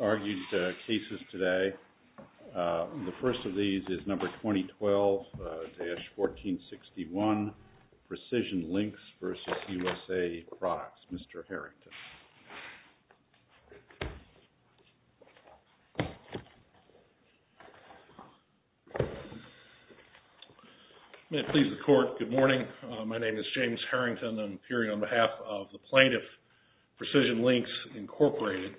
argued cases today. The first of these is number 2012-1461, PRECISION LINKS v. USA PRODUCTS. Mr. Harrington. May it please the Court, good morning. My name is James Harrington. I'm appearing on behalf of the plaintiff, PRECISION LINKS, Incorporated.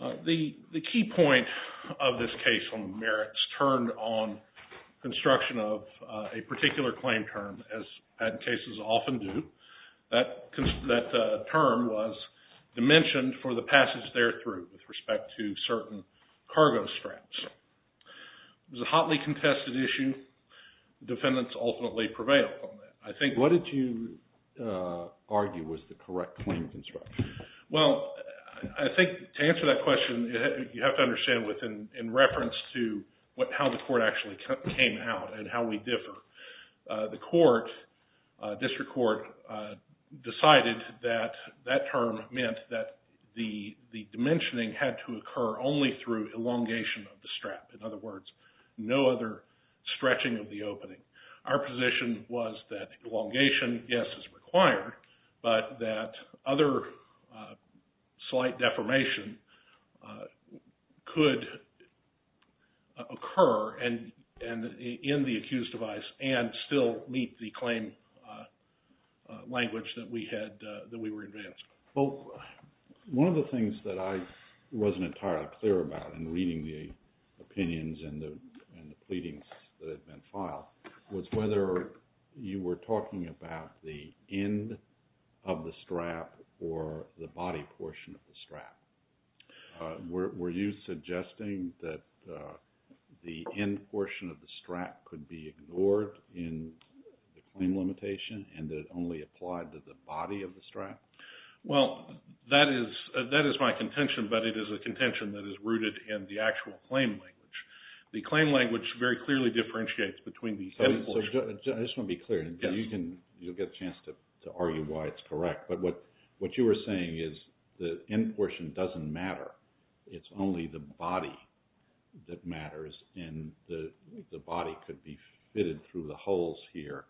The key point of this case on merits turned on construction of a particular claim term, as patent cases often do. That term was dimensioned for the passage there through with respect to certain cargo straps. It was a hotly contested issue. I think defendants ultimately prevail on that. What did you argue was the correct claim construction? Well, I think to answer that question, you have to understand within reference to how the court actually came out and how we differ. The court, district court, decided that that term meant that the dimensioning had to occur only through elongation of the strap. In other words, no other stretching of the opening. Our position was that elongation, yes, is required, but that other slight deformation could occur in the accused device and still meet the claim language that we were advancing. Well, one of the things that I wasn't entirely clear about in reading the opinions and the pleadings that had been filed was whether you were talking about the end of the strap or the body portion of the strap. Were you suggesting that the end portion of the strap could be ignored in the claim limitation and that it only applied to the body of the strap? Well, that is my contention, but it is a contention that is rooted in the actual claim language. The claim language very clearly differentiates between the end portion. I just want to be clear. You'll get a chance to argue why it's correct, but what you were saying is the end portion doesn't matter. It's only the body that matters, and the body could be fitted through the holes here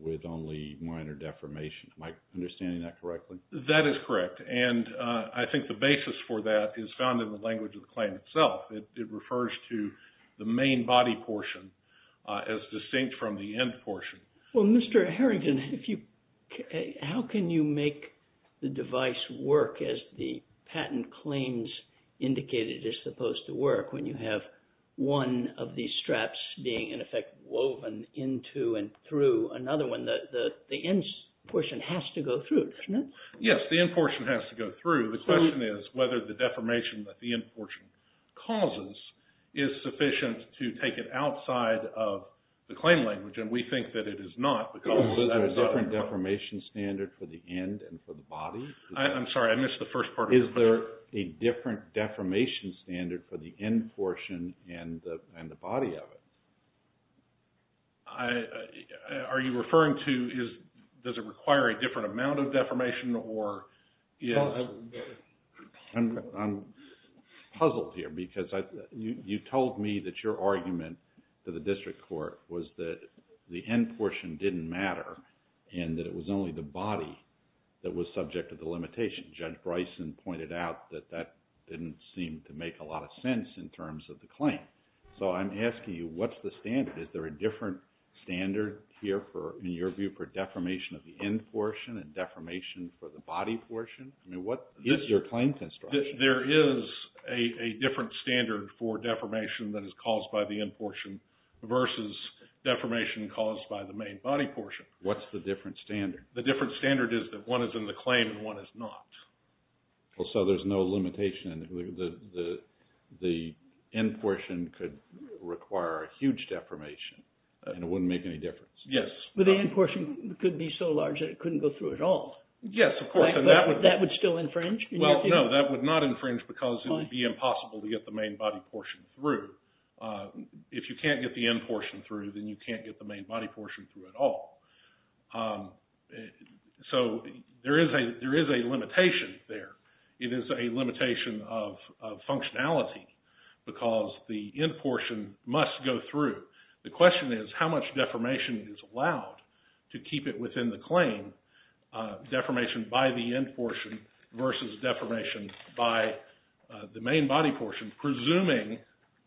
with only minor deformation. Am I understanding that correctly? That is correct, and I think the basis for that is found in the language of the claim itself. It refers to the main body portion as distinct from the end portion. Well, Mr. Harrington, how can you make the device work as the patent claims indicate it is supposed to work when you have one of these straps being, in effect, woven into and through another one? The end portion has to go through, doesn't it? Yes, the end portion has to go through. The question is whether the deformation that the end portion causes is sufficient to take it outside of the claim language, and we think that it is not. Is there a different deformation standard for the end and for the body? I'm sorry, I missed the first part of your question. Is there a different deformation standard for the end portion and the body of it? Are you referring to, does it require a different amount of deformation? I'm puzzled here because you told me that your argument to the district court was that the end portion didn't matter and that it was only the body that was subject to the limitation. Judge Bryson pointed out that that didn't seem to make a lot of sense in terms of the claim. So I'm asking you, what's the standard? Is there a different standard here, in your view, for deformation of the end portion and deformation for the body portion? I mean, what is your claim construction? There is a different standard for deformation that is caused by the end portion versus deformation caused by the main body portion. What's the different standard? The different standard is that one is in the claim and one is not. Well, so there's no limitation. The end portion could require a huge deformation and it wouldn't make any difference. Yes. But the end portion could be so large that it couldn't go through at all. Yes, of course. That would still infringe? Well, no, that would not infringe because it would be impossible to get the main body portion through. If you can't get the end portion through, then you can't get the main body portion through at all. So there is a limitation there. It is a limitation of functionality because the end portion must go through. The question is how much deformation is allowed to keep it within the claim, deformation by the end portion versus deformation by the main body portion, presuming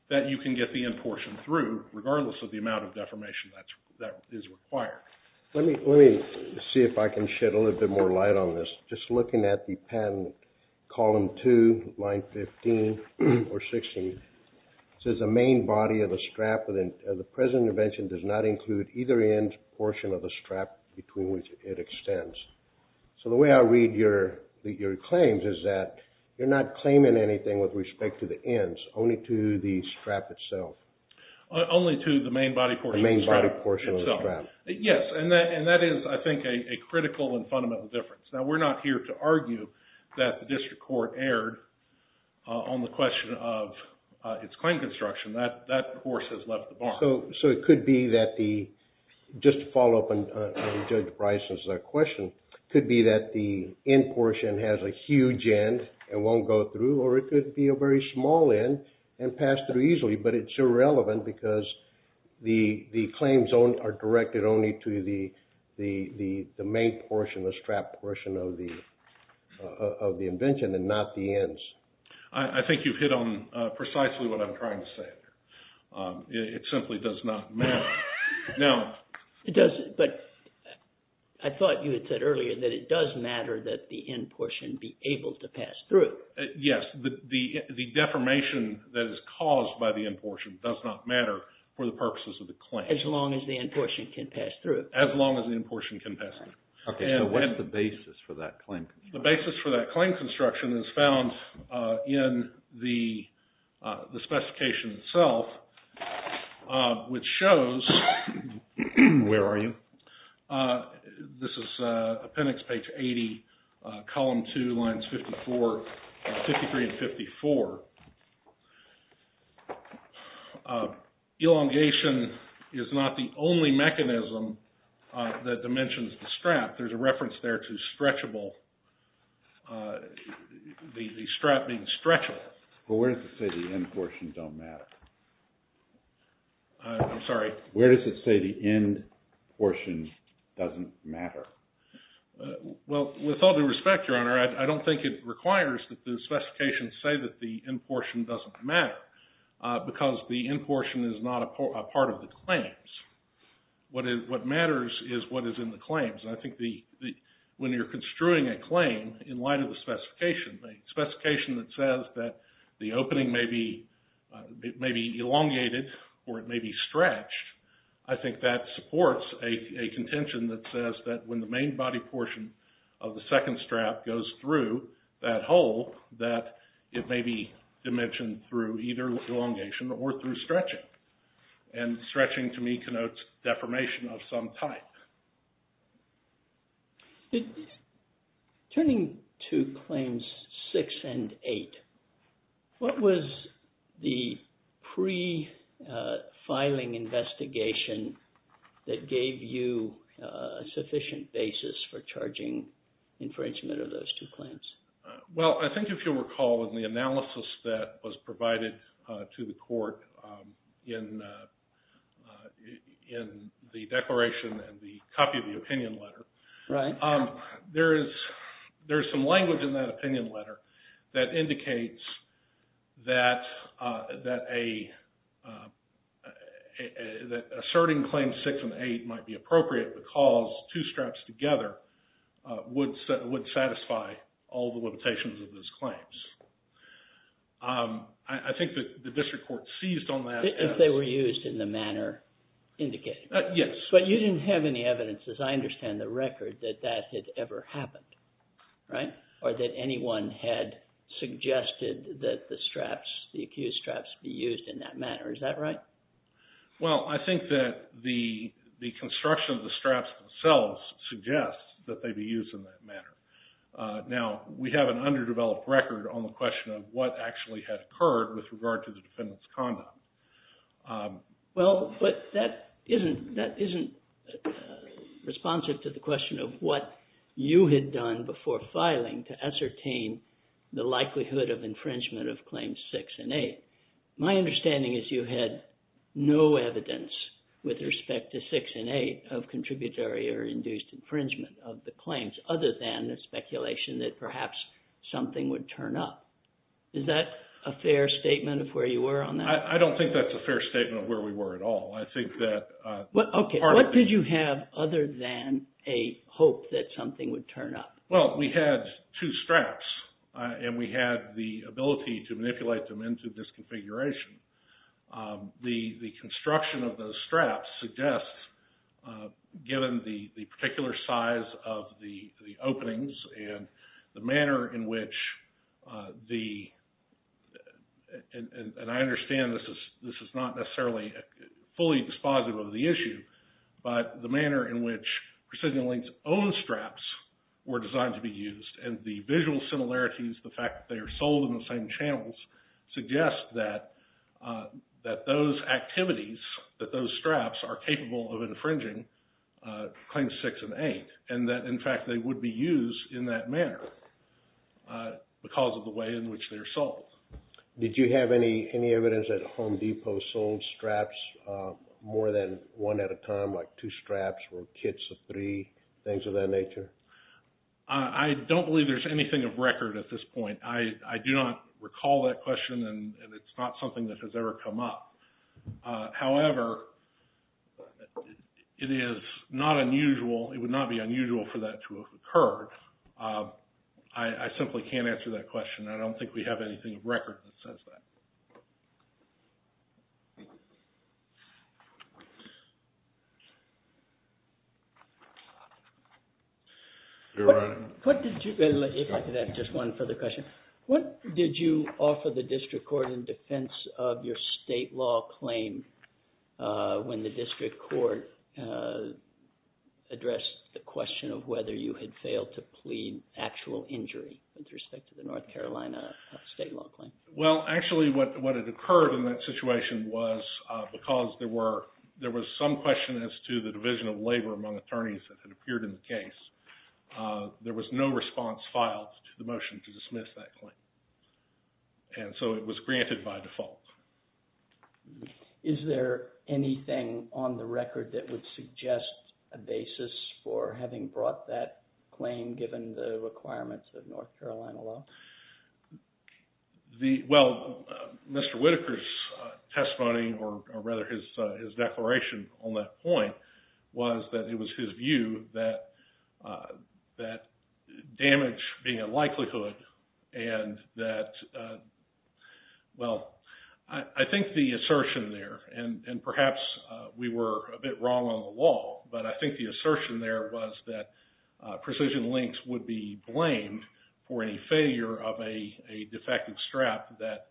that you can get the end portion through regardless of the amount of deformation that is required. Let me see if I can shed a little bit more light on this. Just looking at the patent, column 2, line 15 or 16, it says the main body of the strap of the present intervention does not include either end portion of the strap between which it extends. So the way I read your claims is that you're not claiming anything with respect to the ends, only to the strap itself. Only to the main body portion. The main body portion of the strap. Yes, and that is, I think, a critical and fundamental difference. Now, we're not here to argue that the district court erred on the question of its claim construction. That, of course, has left the bar. So it could be that the, just to follow up on Judge Bryson's question, it could be that the end portion has a huge end and won't go through, or it could be a very small end and pass through easily, but it's irrelevant because the claims are directed only to the main portion, the strap portion of the invention and not the ends. I think you've hit on precisely what I'm trying to say here. It simply does not matter. Now... It doesn't, but I thought you had said earlier that it does matter that the end portion be able to pass through. Yes, the deformation that is caused by the end portion does not matter for the purposes of the claim. As long as the end portion can pass through. As long as the end portion can pass through. Okay, so what's the basis for that claim construction? The basis for that construction is found in the specification itself, which shows... Where are you? This is appendix page 80, column 2, lines 53 and 54. Elongation is not the only mechanism that dimensions the strap. There's a reference there to stretchable. The strap being stretchable. But where does it say the end portion don't matter? I'm sorry? Where does it say the end portion doesn't matter? Well, with all due respect, Your Honor, I don't think it requires that the specifications say that the end portion doesn't matter, because the end portion is not a part of the claims. What matters is what is in the claims. I think when you're construing a claim in light of the specification, a specification that says that the opening may be elongated or it may be stretched, I think that supports a contention that says that when the main body portion of the second strap goes through that hole, that it may be dimensioned through either elongation or through stretching. And stretching to me connotes deformation of some type. Turning to Claims 6 and 8, what was the pre-filing investigation that gave you a sufficient basis for charging infringement of those two claims? Well, I think if you'll recall in the analysis that was provided to the Court in the declaration and the copy of the opinion letter, there is some language in that opinion letter that indicates that asserting Claims 6 and 8 might be appropriate because two straps together would satisfy all the limitations of those claims. I think the District Court seized on that. If they were used in the manner indicated. Yes. So what you didn't have any evidence, as I understand the record, that that had ever happened, right? Or that anyone had suggested that the straps, the accused straps, be used in that manner. Is that right? Well, I think that the construction of the straps themselves suggests that they be used in that manner. Now, we have an underdeveloped record on the question of what actually had occurred with regard to the defendant's conduct. Well, but that isn't responsive to the question of what you had done before filing to ascertain the likelihood of infringement of Claims 6 and 8. My understanding is you had no evidence with respect to 6 and 8 of contributory or induced infringement of the claims other than the speculation that perhaps something would turn up. Is that a fair statement of where you were on that? I don't think that's a fair statement of where we were at all. I think that... Okay. What did you have other than a hope that something would turn up? Well, we had two straps, and we had the ability to manipulate them into this configuration. The construction of those straps suggests, given the particular size of the openings and the manner in which the... And I understand this is not necessarily fully dispositive of the issue, but the manner in which Precision Link's own straps were designed to be used, and the visual similarities, the fact that they are sold in the same channels, suggests that those activities, that those straps are capable of infringing Claims 6 and 8, and that, in fact, they would be used in that manner because of the way in which they are sold. Did you have any evidence that Home Depot sold straps more than one at a time, like two straps or kits of three, things of that nature? I don't believe there's anything of record at this point. I do not recall that question, and it's not something that has ever come up. However, it is not unusual. It would not be unusual for that to have occurred. I simply can't answer that question. I don't think we have anything of record that says that. If I could add just one further question. What did you offer the District Court in defense of your state law claim when the District Court addressed the question of whether you had failed to plead actual injury with respect to the North Carolina state law claim? Well, actually, what had occurred in that situation was because there was some question as to the division of labor among attorneys that had appeared in the case, there was no response filed to the motion to dismiss that claim. And so it was granted by default. Is there anything on the record that would suggest a basis for having brought that claim given the requirements of North Carolina law? Well, Mr. Whitaker's testimony, or rather his declaration on that point, was that it was his view that damage being a likelihood and that, well, I think the assertion there, and perhaps we were a bit wrong on the law, but I think the assertion there was that precision links would be blamed for any failure of a defective strap that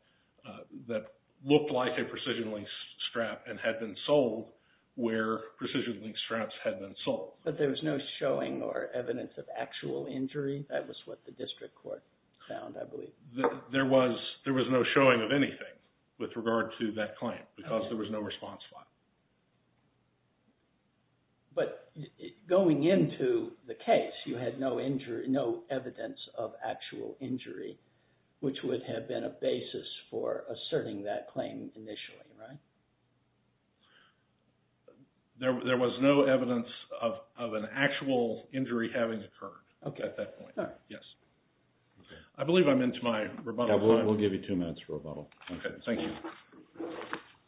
looked like a precision link strap and had been sold where precision link straps had been sold. But there was no showing or evidence of actual injury? That was what the District Court found, I believe. There was no showing of anything with regard to that claim because there was no response filed. But going into the case, you had no evidence of actual injury, which would have been a basis for asserting that claim initially, right? There was no evidence of an actual injury having occurred at that point, yes. I believe I'm into my rebuttal time. We'll give you two minutes for rebuttal. Okay, thank you.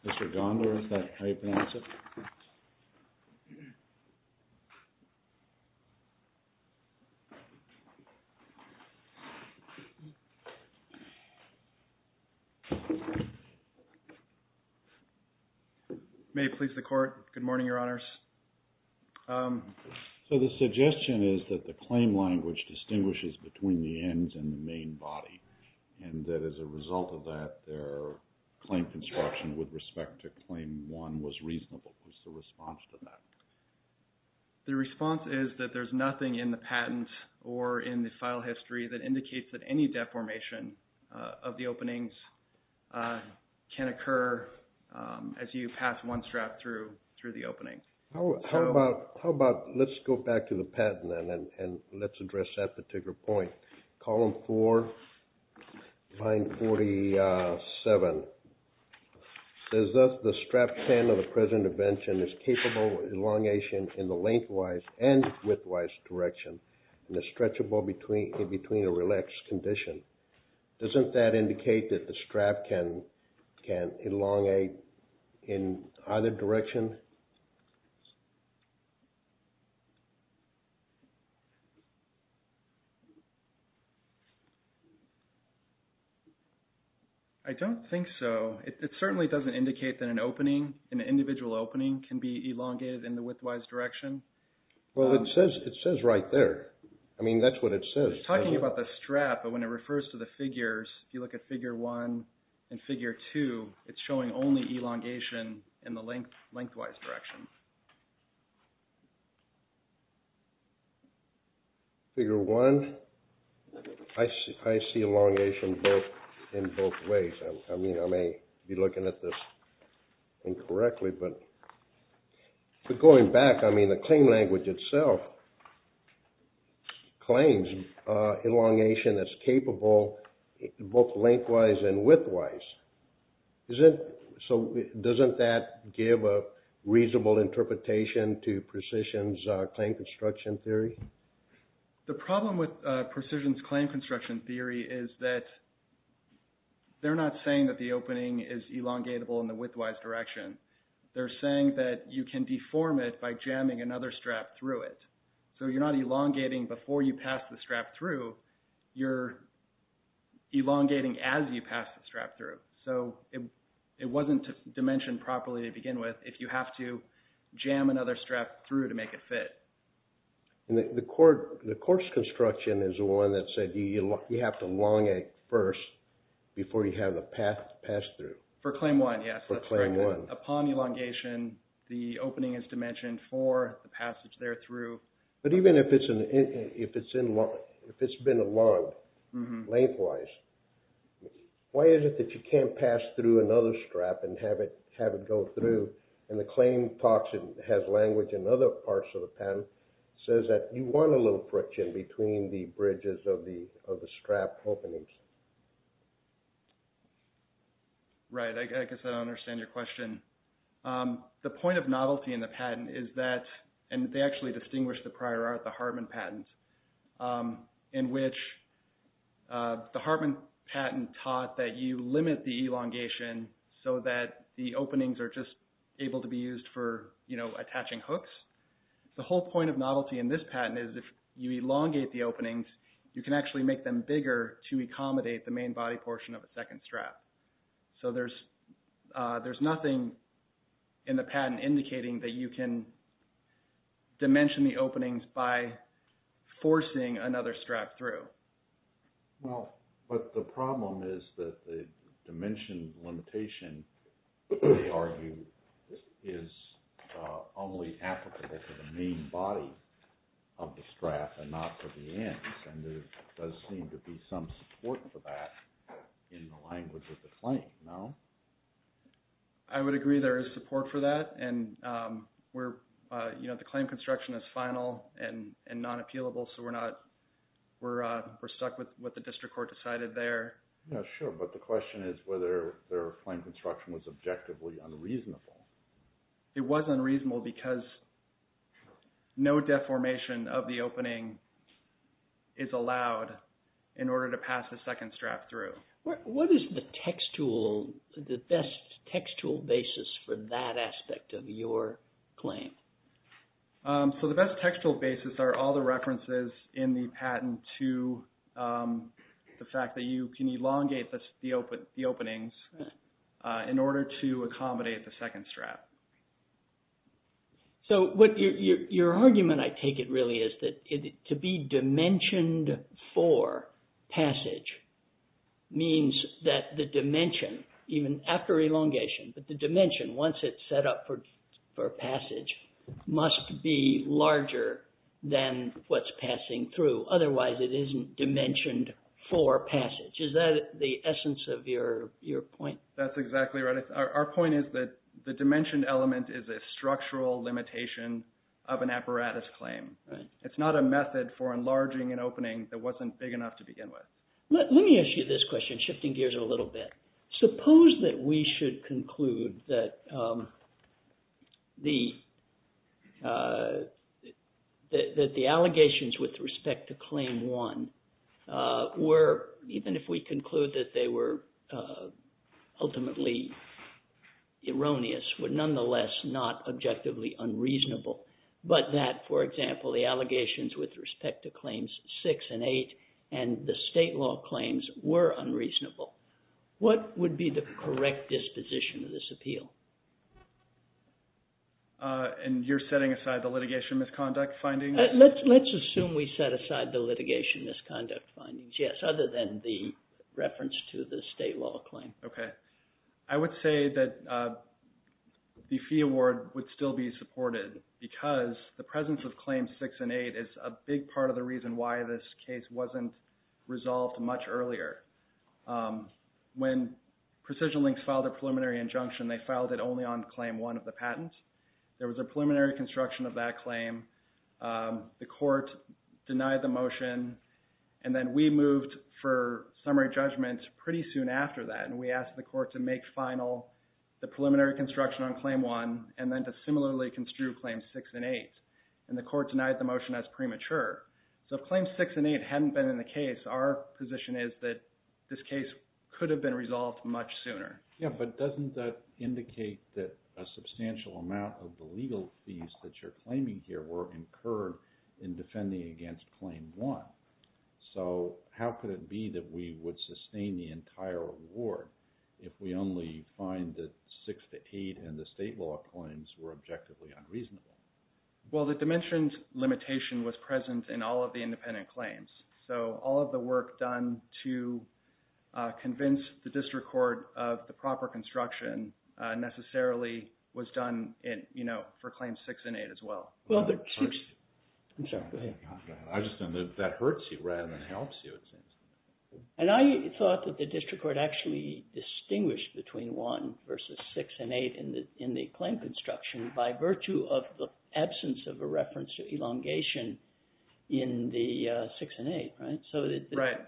Mr. Gondar, is that how you pronounce it? May it please the Court. Good morning, Your Honors. So the suggestion is that the claim language distinguishes between the ends and the main body, and that as a result of that, their claim construction with respect to Claim 1 was reasonable. What's the response to that? The response is that there's nothing in the patent or in the file history that indicates that any deformation of the openings can occur as you pass one strap through the opening. How about let's go back to the patent, and let's address that particular point. Column 4, line 47, says thus, the strap span of the present invention is capable of elongation in the lengthwise and widthwise direction, and is stretchable in between a relaxed condition. Doesn't that indicate that the strap can elongate in either direction? I don't think so. It certainly doesn't indicate that an opening, an individual opening, can be elongated in the widthwise direction. Well, it says right there. I mean, that's what it says. It's talking about the strap, but when it refers to the figures, if you look at Figure 1 and Figure 2, it's showing only elongation in the lengthwise direction. Figure 1, I see elongation in both ways. I mean, I may be looking at this incorrectly, but going back, I mean, the claim language itself claims elongation that's capable both lengthwise and widthwise. So doesn't that give a reasonable interpretation to Precision's claim construction theory? The problem with Precision's claim construction theory is that they're not saying that the opening is elongatable in the widthwise direction. They're saying that you can deform it by jamming another strap through it. So you're not elongating before you pass the strap through. You're elongating as you pass the strap through. So it wasn't dimensioned properly to begin with if you have to jam another strap through to make it fit. The course construction is the one that said you have to elongate first before you have the path passed through. For Claim 1, yes. For Claim 1. Upon elongation, the opening is dimensioned for the passage there through. But even if it's been elonged lengthwise, why is it that you can't pass through another strap and have it go through? And the claim talks and has language in other parts of the patent that says that you want a little friction between the bridges of the strap openings. Right. I guess I don't understand your question. The point of novelty in the patent is that, and they actually distinguish the prior art, the Hartman patents, in which the Hartman patent taught that you limit the elongation so that the openings are just able to be used for, you know, attaching hooks. The whole point of novelty in this patent is if you elongate the openings, you can actually make them bigger to accommodate the main body portion of a second strap. So there's nothing in the patent indicating that you can dimension the openings by forcing another strap through. Well, but the problem is that the dimension limitation, they argue, is only applicable to the main body of the strap and not for the ends. And there does seem to be some support for that in the language of the claim, no? I would agree there is support for that. And we're, you know, the claim construction is final and non-appealable. So we're not, we're stuck with what the district court decided there. Yeah, sure. But the question is whether their claim construction was objectively unreasonable. It was unreasonable because no deformation of the opening is allowed in order to pass the second strap through. What is the textual, the best textual basis for that aspect of your claim? So the best textual basis are all the references in the patent to the fact that you can elongate the openings in order to accommodate the second strap. So your argument, I take it, really, is that to be dimensioned for passage means that the dimension, even after elongation, but the dimension, once it's set up for passage, must be larger than what's passing through. Otherwise, it isn't dimensioned for passage. Is that the essence of your point? That's exactly right. Our point is that the dimension element is a structural limitation of an apparatus claim. It's not a method for enlarging an opening that wasn't big enough to begin with. Let me ask you this question, shifting gears a little bit. Suppose that we should conclude that the allegations with respect to Claim 1 were, even if we conclude that they were ultimately erroneous, were nonetheless not objectively unreasonable, but that, for example, the allegations with respect to Claims 6 and 8 and the state law claims were unreasonable. What would be the correct disposition of this appeal? And you're setting aside the litigation misconduct findings? Let's assume we set aside the litigation misconduct findings, yes, other than the reference to the state law claim. I would say that the fee award would still be supported because the presence of Claims 6 and 8 is a big part of the reason why this case wasn't resolved much earlier. When PrecisionLynx filed a preliminary injunction, they filed it only on Claim 1 of the patent. There was a preliminary construction of that claim. The court denied the motion, and then we moved for summary judgment pretty soon after that, and we asked the court to make final the preliminary construction on Claim 1 and then to similarly construe Claims 6 and 8, and the court denied the motion as premature. So if Claims 6 and 8 hadn't been in the case, our position is that this case could have been resolved much sooner. Yeah, but doesn't that indicate that a substantial amount of the legal fees that you're claiming here were incurred in defending against Claim 1? So how could it be that we would sustain the entire award if we only find that 6 to 8 and the state law claims were objectively unreasonable? Well, the dimensions limitation was present in all of the independent claims. So all of the work done to convince the district court of the proper construction necessarily was done for Claims 6 and 8 as well. I'm sorry, go ahead. I just understood that hurts you rather than helps you, it seems. And I thought that the district court actually distinguished between 1 versus 6 and 8 in the claim construction by virtue of the absence of a reference to elongation in the 6 and 8, right? So the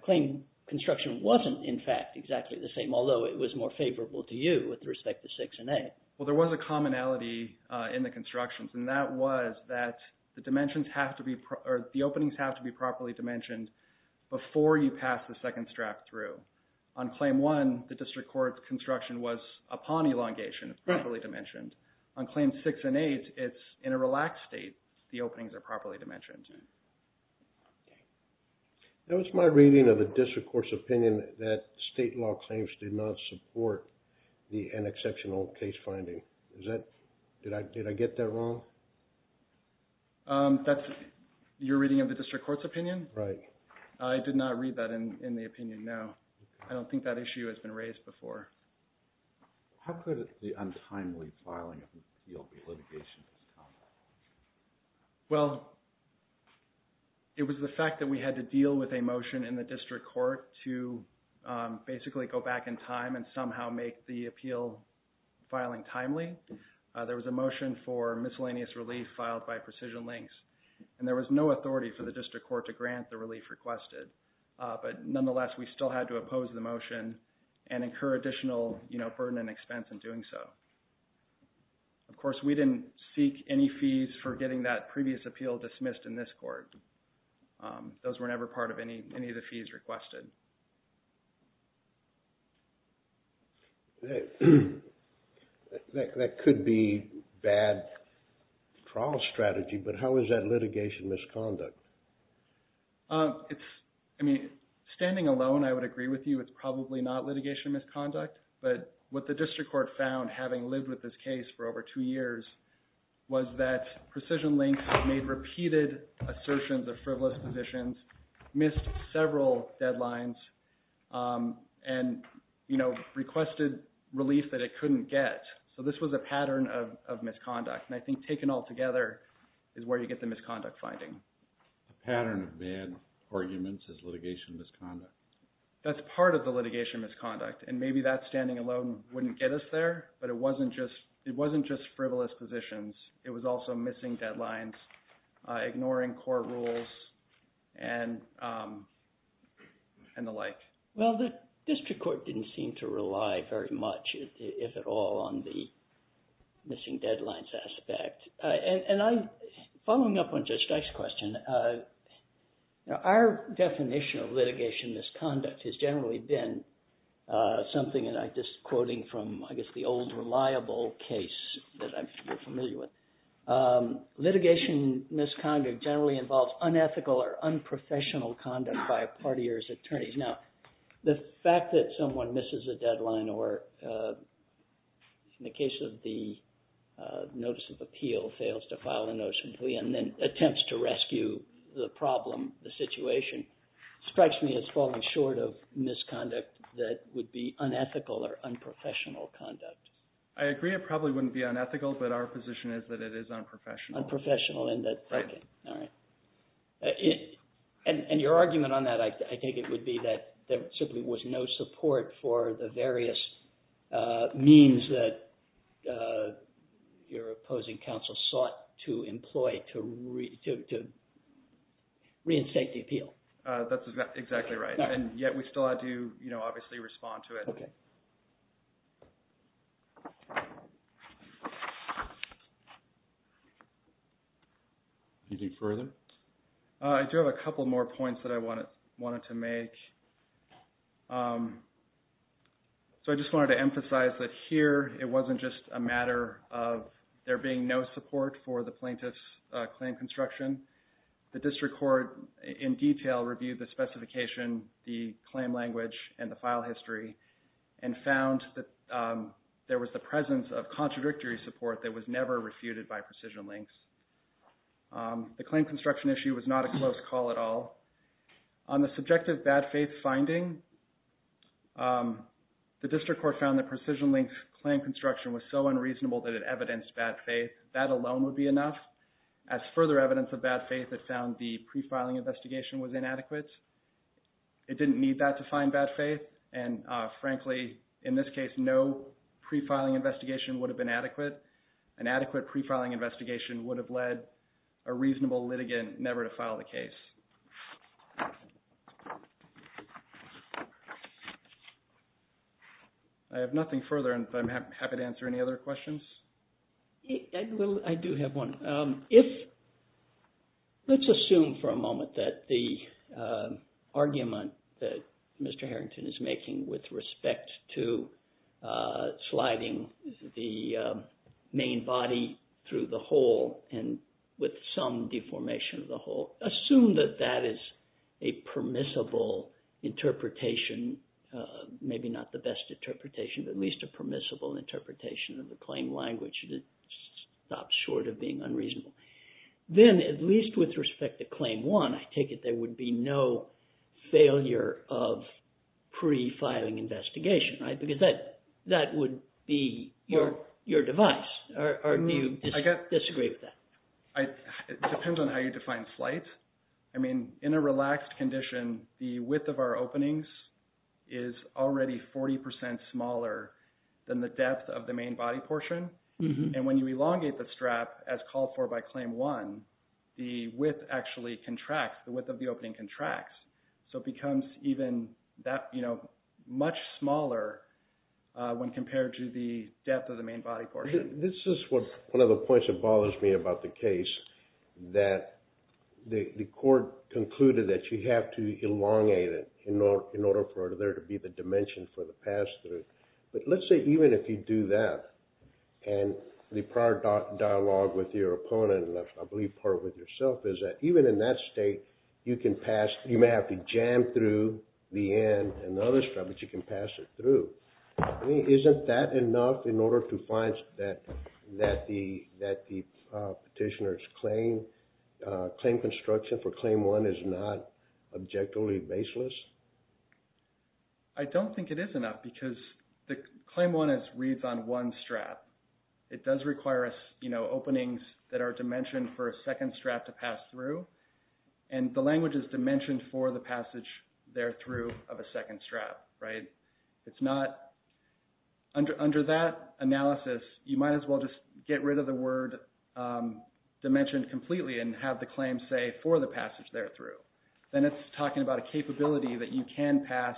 claim construction wasn't, in fact, exactly the same, although it was more favorable to you with respect to 6 and 8. Well, there was a commonality in the constructions and that was that the dimensions have to be, or the openings have to be properly dimensioned before you pass the second strap through. On Claim 1, the district court's construction was upon elongation, properly dimensioned. On Claims 6 and 8, it's in a relaxed state. The openings are properly dimensioned. That was my reading of the district court's opinion that state law claims did not support an exceptional case finding. Did I get that wrong? That's your reading of the district court's opinion? Right. I did not read that in the opinion, no. I don't think that issue has been raised before. How could the untimely filing of an appeal be litigation? Well, it was the fact that we had to deal with a motion in the district court to basically go back in time and somehow make the appeal filing timely. There was a motion for miscellaneous relief filed by Precision Links, and there was no authority for the district court to grant the relief requested. But nonetheless, we still had to oppose the motion and incur additional burden and expense in doing so. Of course, we didn't seek any fees for getting that previous appeal dismissed in this court. Those were never part of any of the fees requested. That could be bad trial strategy, but how is that litigation misconduct? Standing alone, I would agree with you, it's probably not litigation misconduct. But what the district court found, having lived with this case for over two years, was that Precision Links made repeated assertions of frivolous positions, missed several deadlines, and requested relief that it couldn't get. So this was a pattern of misconduct, and I think taken all together is where you get the misconduct finding. The pattern of bad arguments is litigation misconduct. That's part of the litigation misconduct, and maybe that standing alone wouldn't get us there, but it wasn't just frivolous positions. It was also missing deadlines, ignoring court rules, and the like. Well, the district court didn't seem to rely very much, if at all, on the missing deadlines aspect. And following up on Judge Dice's question, our definition of litigation misconduct has generally been something, and I'm just quoting from, I guess, the old reliable case that I'm familiar with. Litigation misconduct generally involves unethical or unprofessional conduct by a party or its attorneys. Now, the fact that someone misses a deadline or, in the case of the notice of appeal, fails to file a notice completely and then attempts to rescue the problem, the situation, strikes me as falling short of misconduct that would be unethical or unprofessional conduct. I agree it probably wouldn't be unethical, but our position is that it is unprofessional. Unprofessional in that. Right. All right. And your argument on that, I think it would be that there simply was no support for the various means that your opposing counsel sought to employ to reinstate the appeal. That's exactly right. And yet we still had to obviously respond to it. Okay. Anything further? I do have a couple more points that I wanted to make. So I just wanted to emphasize that here it wasn't just a matter of there being no support for the plaintiff's claim construction. The district court, in detail, reviewed the specification, the claim language, and the file history and found that there was the presence of contradictory support that was never refuted by precision links. The claim construction issue was not a close call at all. On the subjective bad faith finding, the district court found that precision links claim construction was so unreasonable that it evidenced bad faith. That alone would be enough. As further evidence of bad faith, it found the pre-filing investigation was inadequate. It didn't need that to find bad faith. And frankly, in this case, no pre-filing investigation would have been adequate. An adequate pre-filing investigation would have led a reasonable litigant never to file the case. I have nothing further and I'm happy to answer any other questions. Well, I do have one. Let's assume for a moment that the argument that Mr. Harrington is making with respect to sliding the main body through the hole and with some deformation of the hole, assume that that is a permissible interpretation. Maybe not the best interpretation, but at least a permissible interpretation of the claim language that stops short of being unreasonable. Then at least with respect to claim one, I take it there would be no failure of pre-filing investigation, right? Because that would be your device. Do you disagree with that? It depends on how you define flight. I mean, in a relaxed condition, the width of our openings is already 40% smaller than the depth of the main body portion. And when you elongate the strap as called for by claim one, the width actually contracts. The width of the opening contracts. So it becomes even that much smaller when compared to the depth of the main body portion. This is one of the points that bothers me about the case, that the court concluded that you have to elongate it in order for there to be the dimension for the pass-through. But let's say even if you do that, and the prior dialogue with your opponent, and I believe part of it with yourself, is that even in that state, you may have to jam through the end and the other strap, but you can pass it through. Isn't that enough in order to find that the petitioner's claim construction for claim one is not objectively baseless? I don't think it is enough, because claim one reads on one strap. It does require openings that are dimensioned for a second strap to pass through. And the language is dimensioned for the passage there through of a second strap, right? Under that analysis, you might as well just get rid of the word dimensioned completely and have the claim say for the passage there through. Then it's talking about a capability that you can pass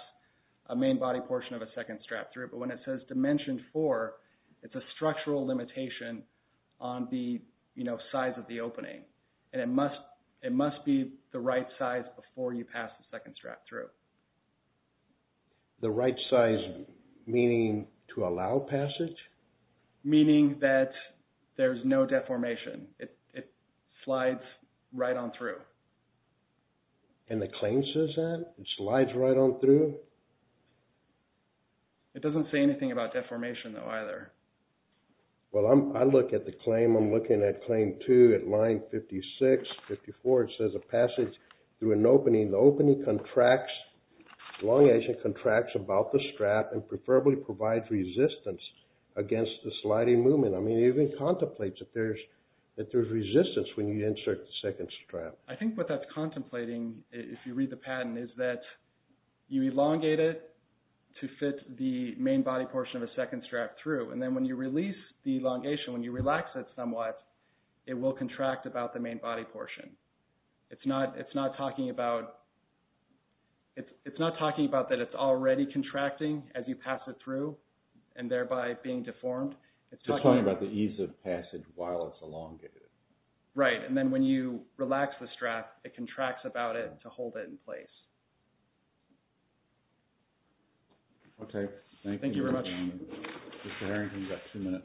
a main body portion of a second strap through, but when it says dimensioned for, it's a structural limitation on the size of the opening. And it must be the right size before you pass the second strap through. The right size meaning to allow passage? Meaning that there's no deformation. It slides right on through. And the claim says that? It slides right on through? It doesn't say anything about deformation, though, either. Well, I look at the claim, I'm looking at claim two at line 56, 54. It says a passage through an opening. The opening contracts, elongation contracts about the strap and preferably provides resistance against the sliding movement. I mean, it even contemplates that there's resistance when you insert the second strap. I think what that's contemplating, if you read the patent, is that you elongate it to fit the main body portion of a second strap through. And then when you release the elongation, when you relax it somewhat, it will contract about the main body portion. It's not talking about that it's already contracting as you pass it through and thereby being deformed. It's talking about the ease of passage while it's elongated. Right. And then when you relax the strap, it contracts about it to hold it in place. Okay. Thank you. Thank you very much. Mr. Harrington, you've got two minutes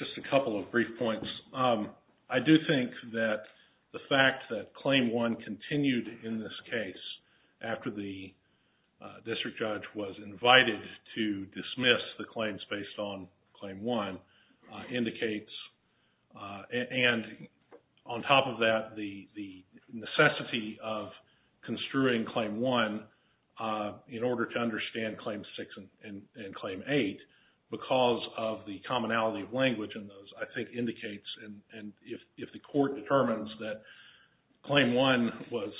left. Just a couple of brief points. I do think that the fact that claim one continued in this case after the district judge was invited to dismiss the claims based on claim one indicates, and on top of that, the necessity of construing claim one in order to understand claim six and claim eight, because of the commonality of language in those, I think indicates, and if the court determines that claim one was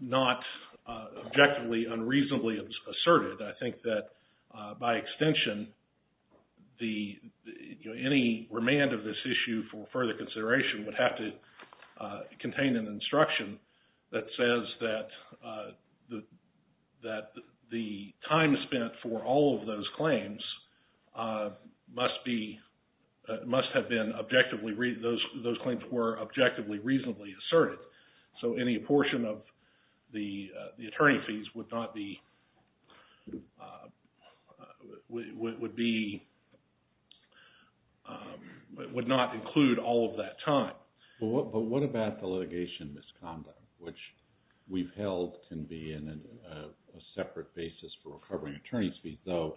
not objectively, unreasonably asserted, I think that, by extension, any remand of this issue for further consideration would have to contain an instruction that says that the time spent for all of those claims must have been objectively, those claims were objectively, reasonably asserted. So any apportion of the attorney fees would not include all of that time. But what about the litigation misconduct, which we've held can be a separate basis for recovering attorney fees, though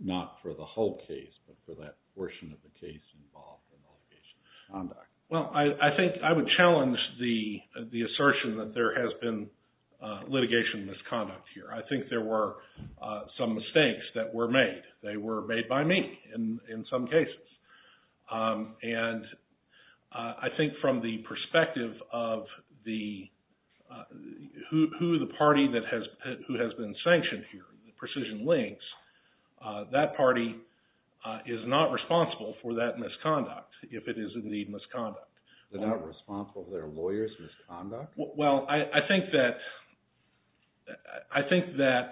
not for the whole case, but for that portion of the case involved in litigation misconduct? Well, I think I would challenge the assertion that there has been litigation misconduct here. I think there were some mistakes that were made. They were made by me in some cases. And I think from the perspective of who the party that has been sanctioned here, Precision Links, that party is not responsible for that misconduct, if it is indeed misconduct. They're not responsible for their lawyer's misconduct? Well, I think that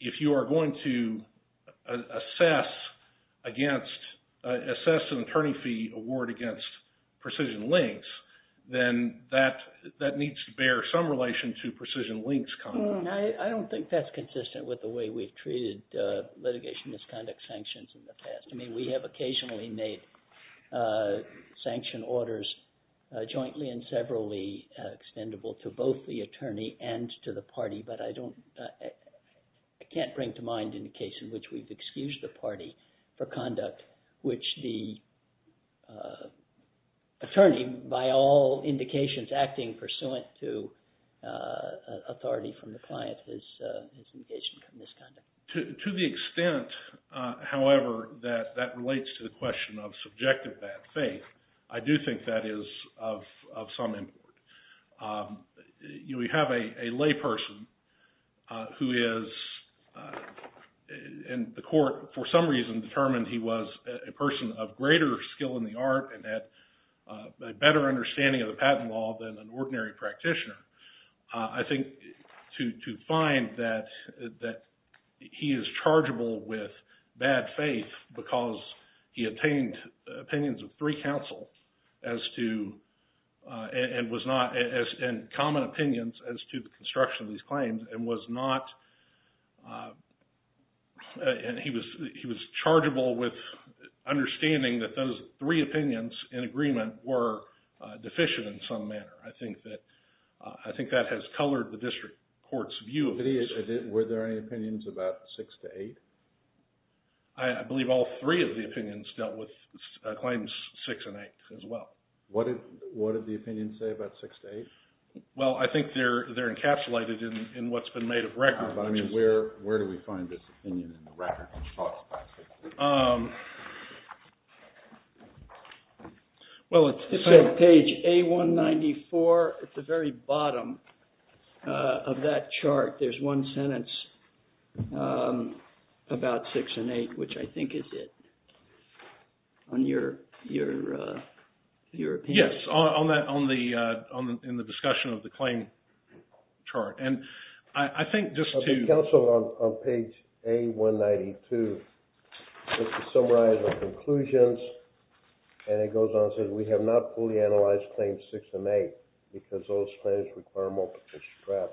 if you are going to assess an attorney fee award against Precision Links, then that needs to bear some relation to Precision Links conduct. I don't think that's consistent with the way we've treated litigation misconduct sanctions in the past. I mean, we have occasionally made sanction orders jointly and severally extendable to both the attorney and to the party, but I can't bring to mind any case in which we've excused the party for conduct, which the attorney, by all indications, acting pursuant to authority from the client, has engaged in misconduct. To the extent, however, that that relates to the question of subjective bad faith, I do think that is of some import. We have a layperson who is in the court for some reason determined he was a person of greater skill in the art and had a better understanding of the patent law than an ordinary practitioner. I think to find that he is chargeable with bad faith because he obtained opinions of three counsel and common opinions as to the construction of these claims and he was chargeable with understanding that those three opinions in agreement were deficient in some manner. I think that has colored the district court's view. Were there any opinions about six to eight? I believe all three of the opinions dealt with claims six and eight as well. What did the opinions say about six to eight? Well, I think they're encapsulated in what's been made of records. Where do we find this opinion in the records? Well, it's on page A194 at the very bottom of that chart. There's one sentence about six and eight, which I think is it. Yes, in the discussion of the claim chart. It's also on page A192. It summarizes the conclusions and it goes on and says we have not fully analyzed claims six and eight because those claims require multiple straps.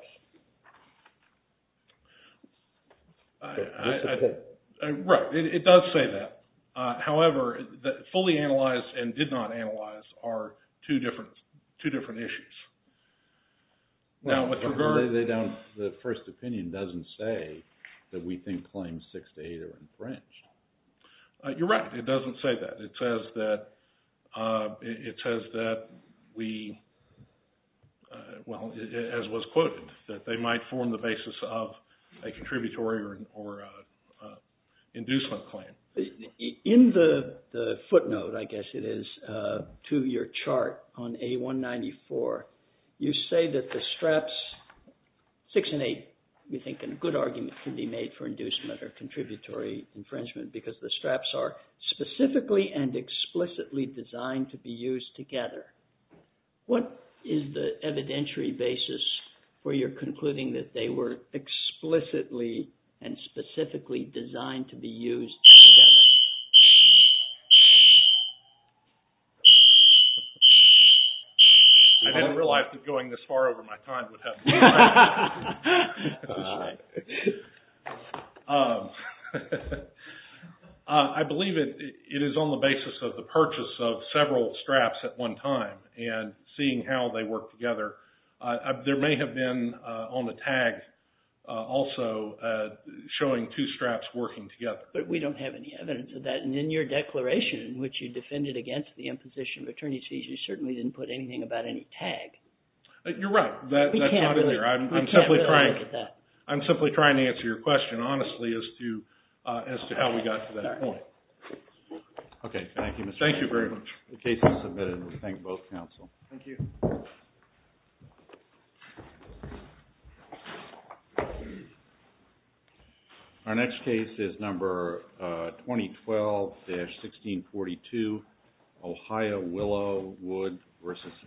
Right, it does say that. However, fully analyzed and did not analyze are two different issues. The first opinion doesn't say that we think claims six to eight are infringed. You're right, it doesn't say that. It says that we, as was quoted, that they might form the basis of a contributory or an inducement claim. In the footnote, I guess it is, to your chart on A194, you say that the straps six and eight, we think a good argument can be made for inducement or contributory infringement because the straps are specifically and explicitly designed to be used together. What is the evidentiary basis for your concluding that they were explicitly and specifically designed to be used together? I didn't realize that going this far over my time would happen. I believe it is on the basis of the purchase of several straps at one time and seeing how they work together. There may have been on the tag also showing two straps working together. But we don't have any evidence of that. And in your declaration, which you defended against the imposition of attorney's fees, you certainly didn't put anything about any tag. You're right, that's not in there. I'm simply trying to answer your question honestly as to how we got to that point. Okay, thank you. Thank you very much. The case is submitted. We thank both counsel. Thank you. Our next case is number 2012-1642, Ohio-Willow-Wood versus...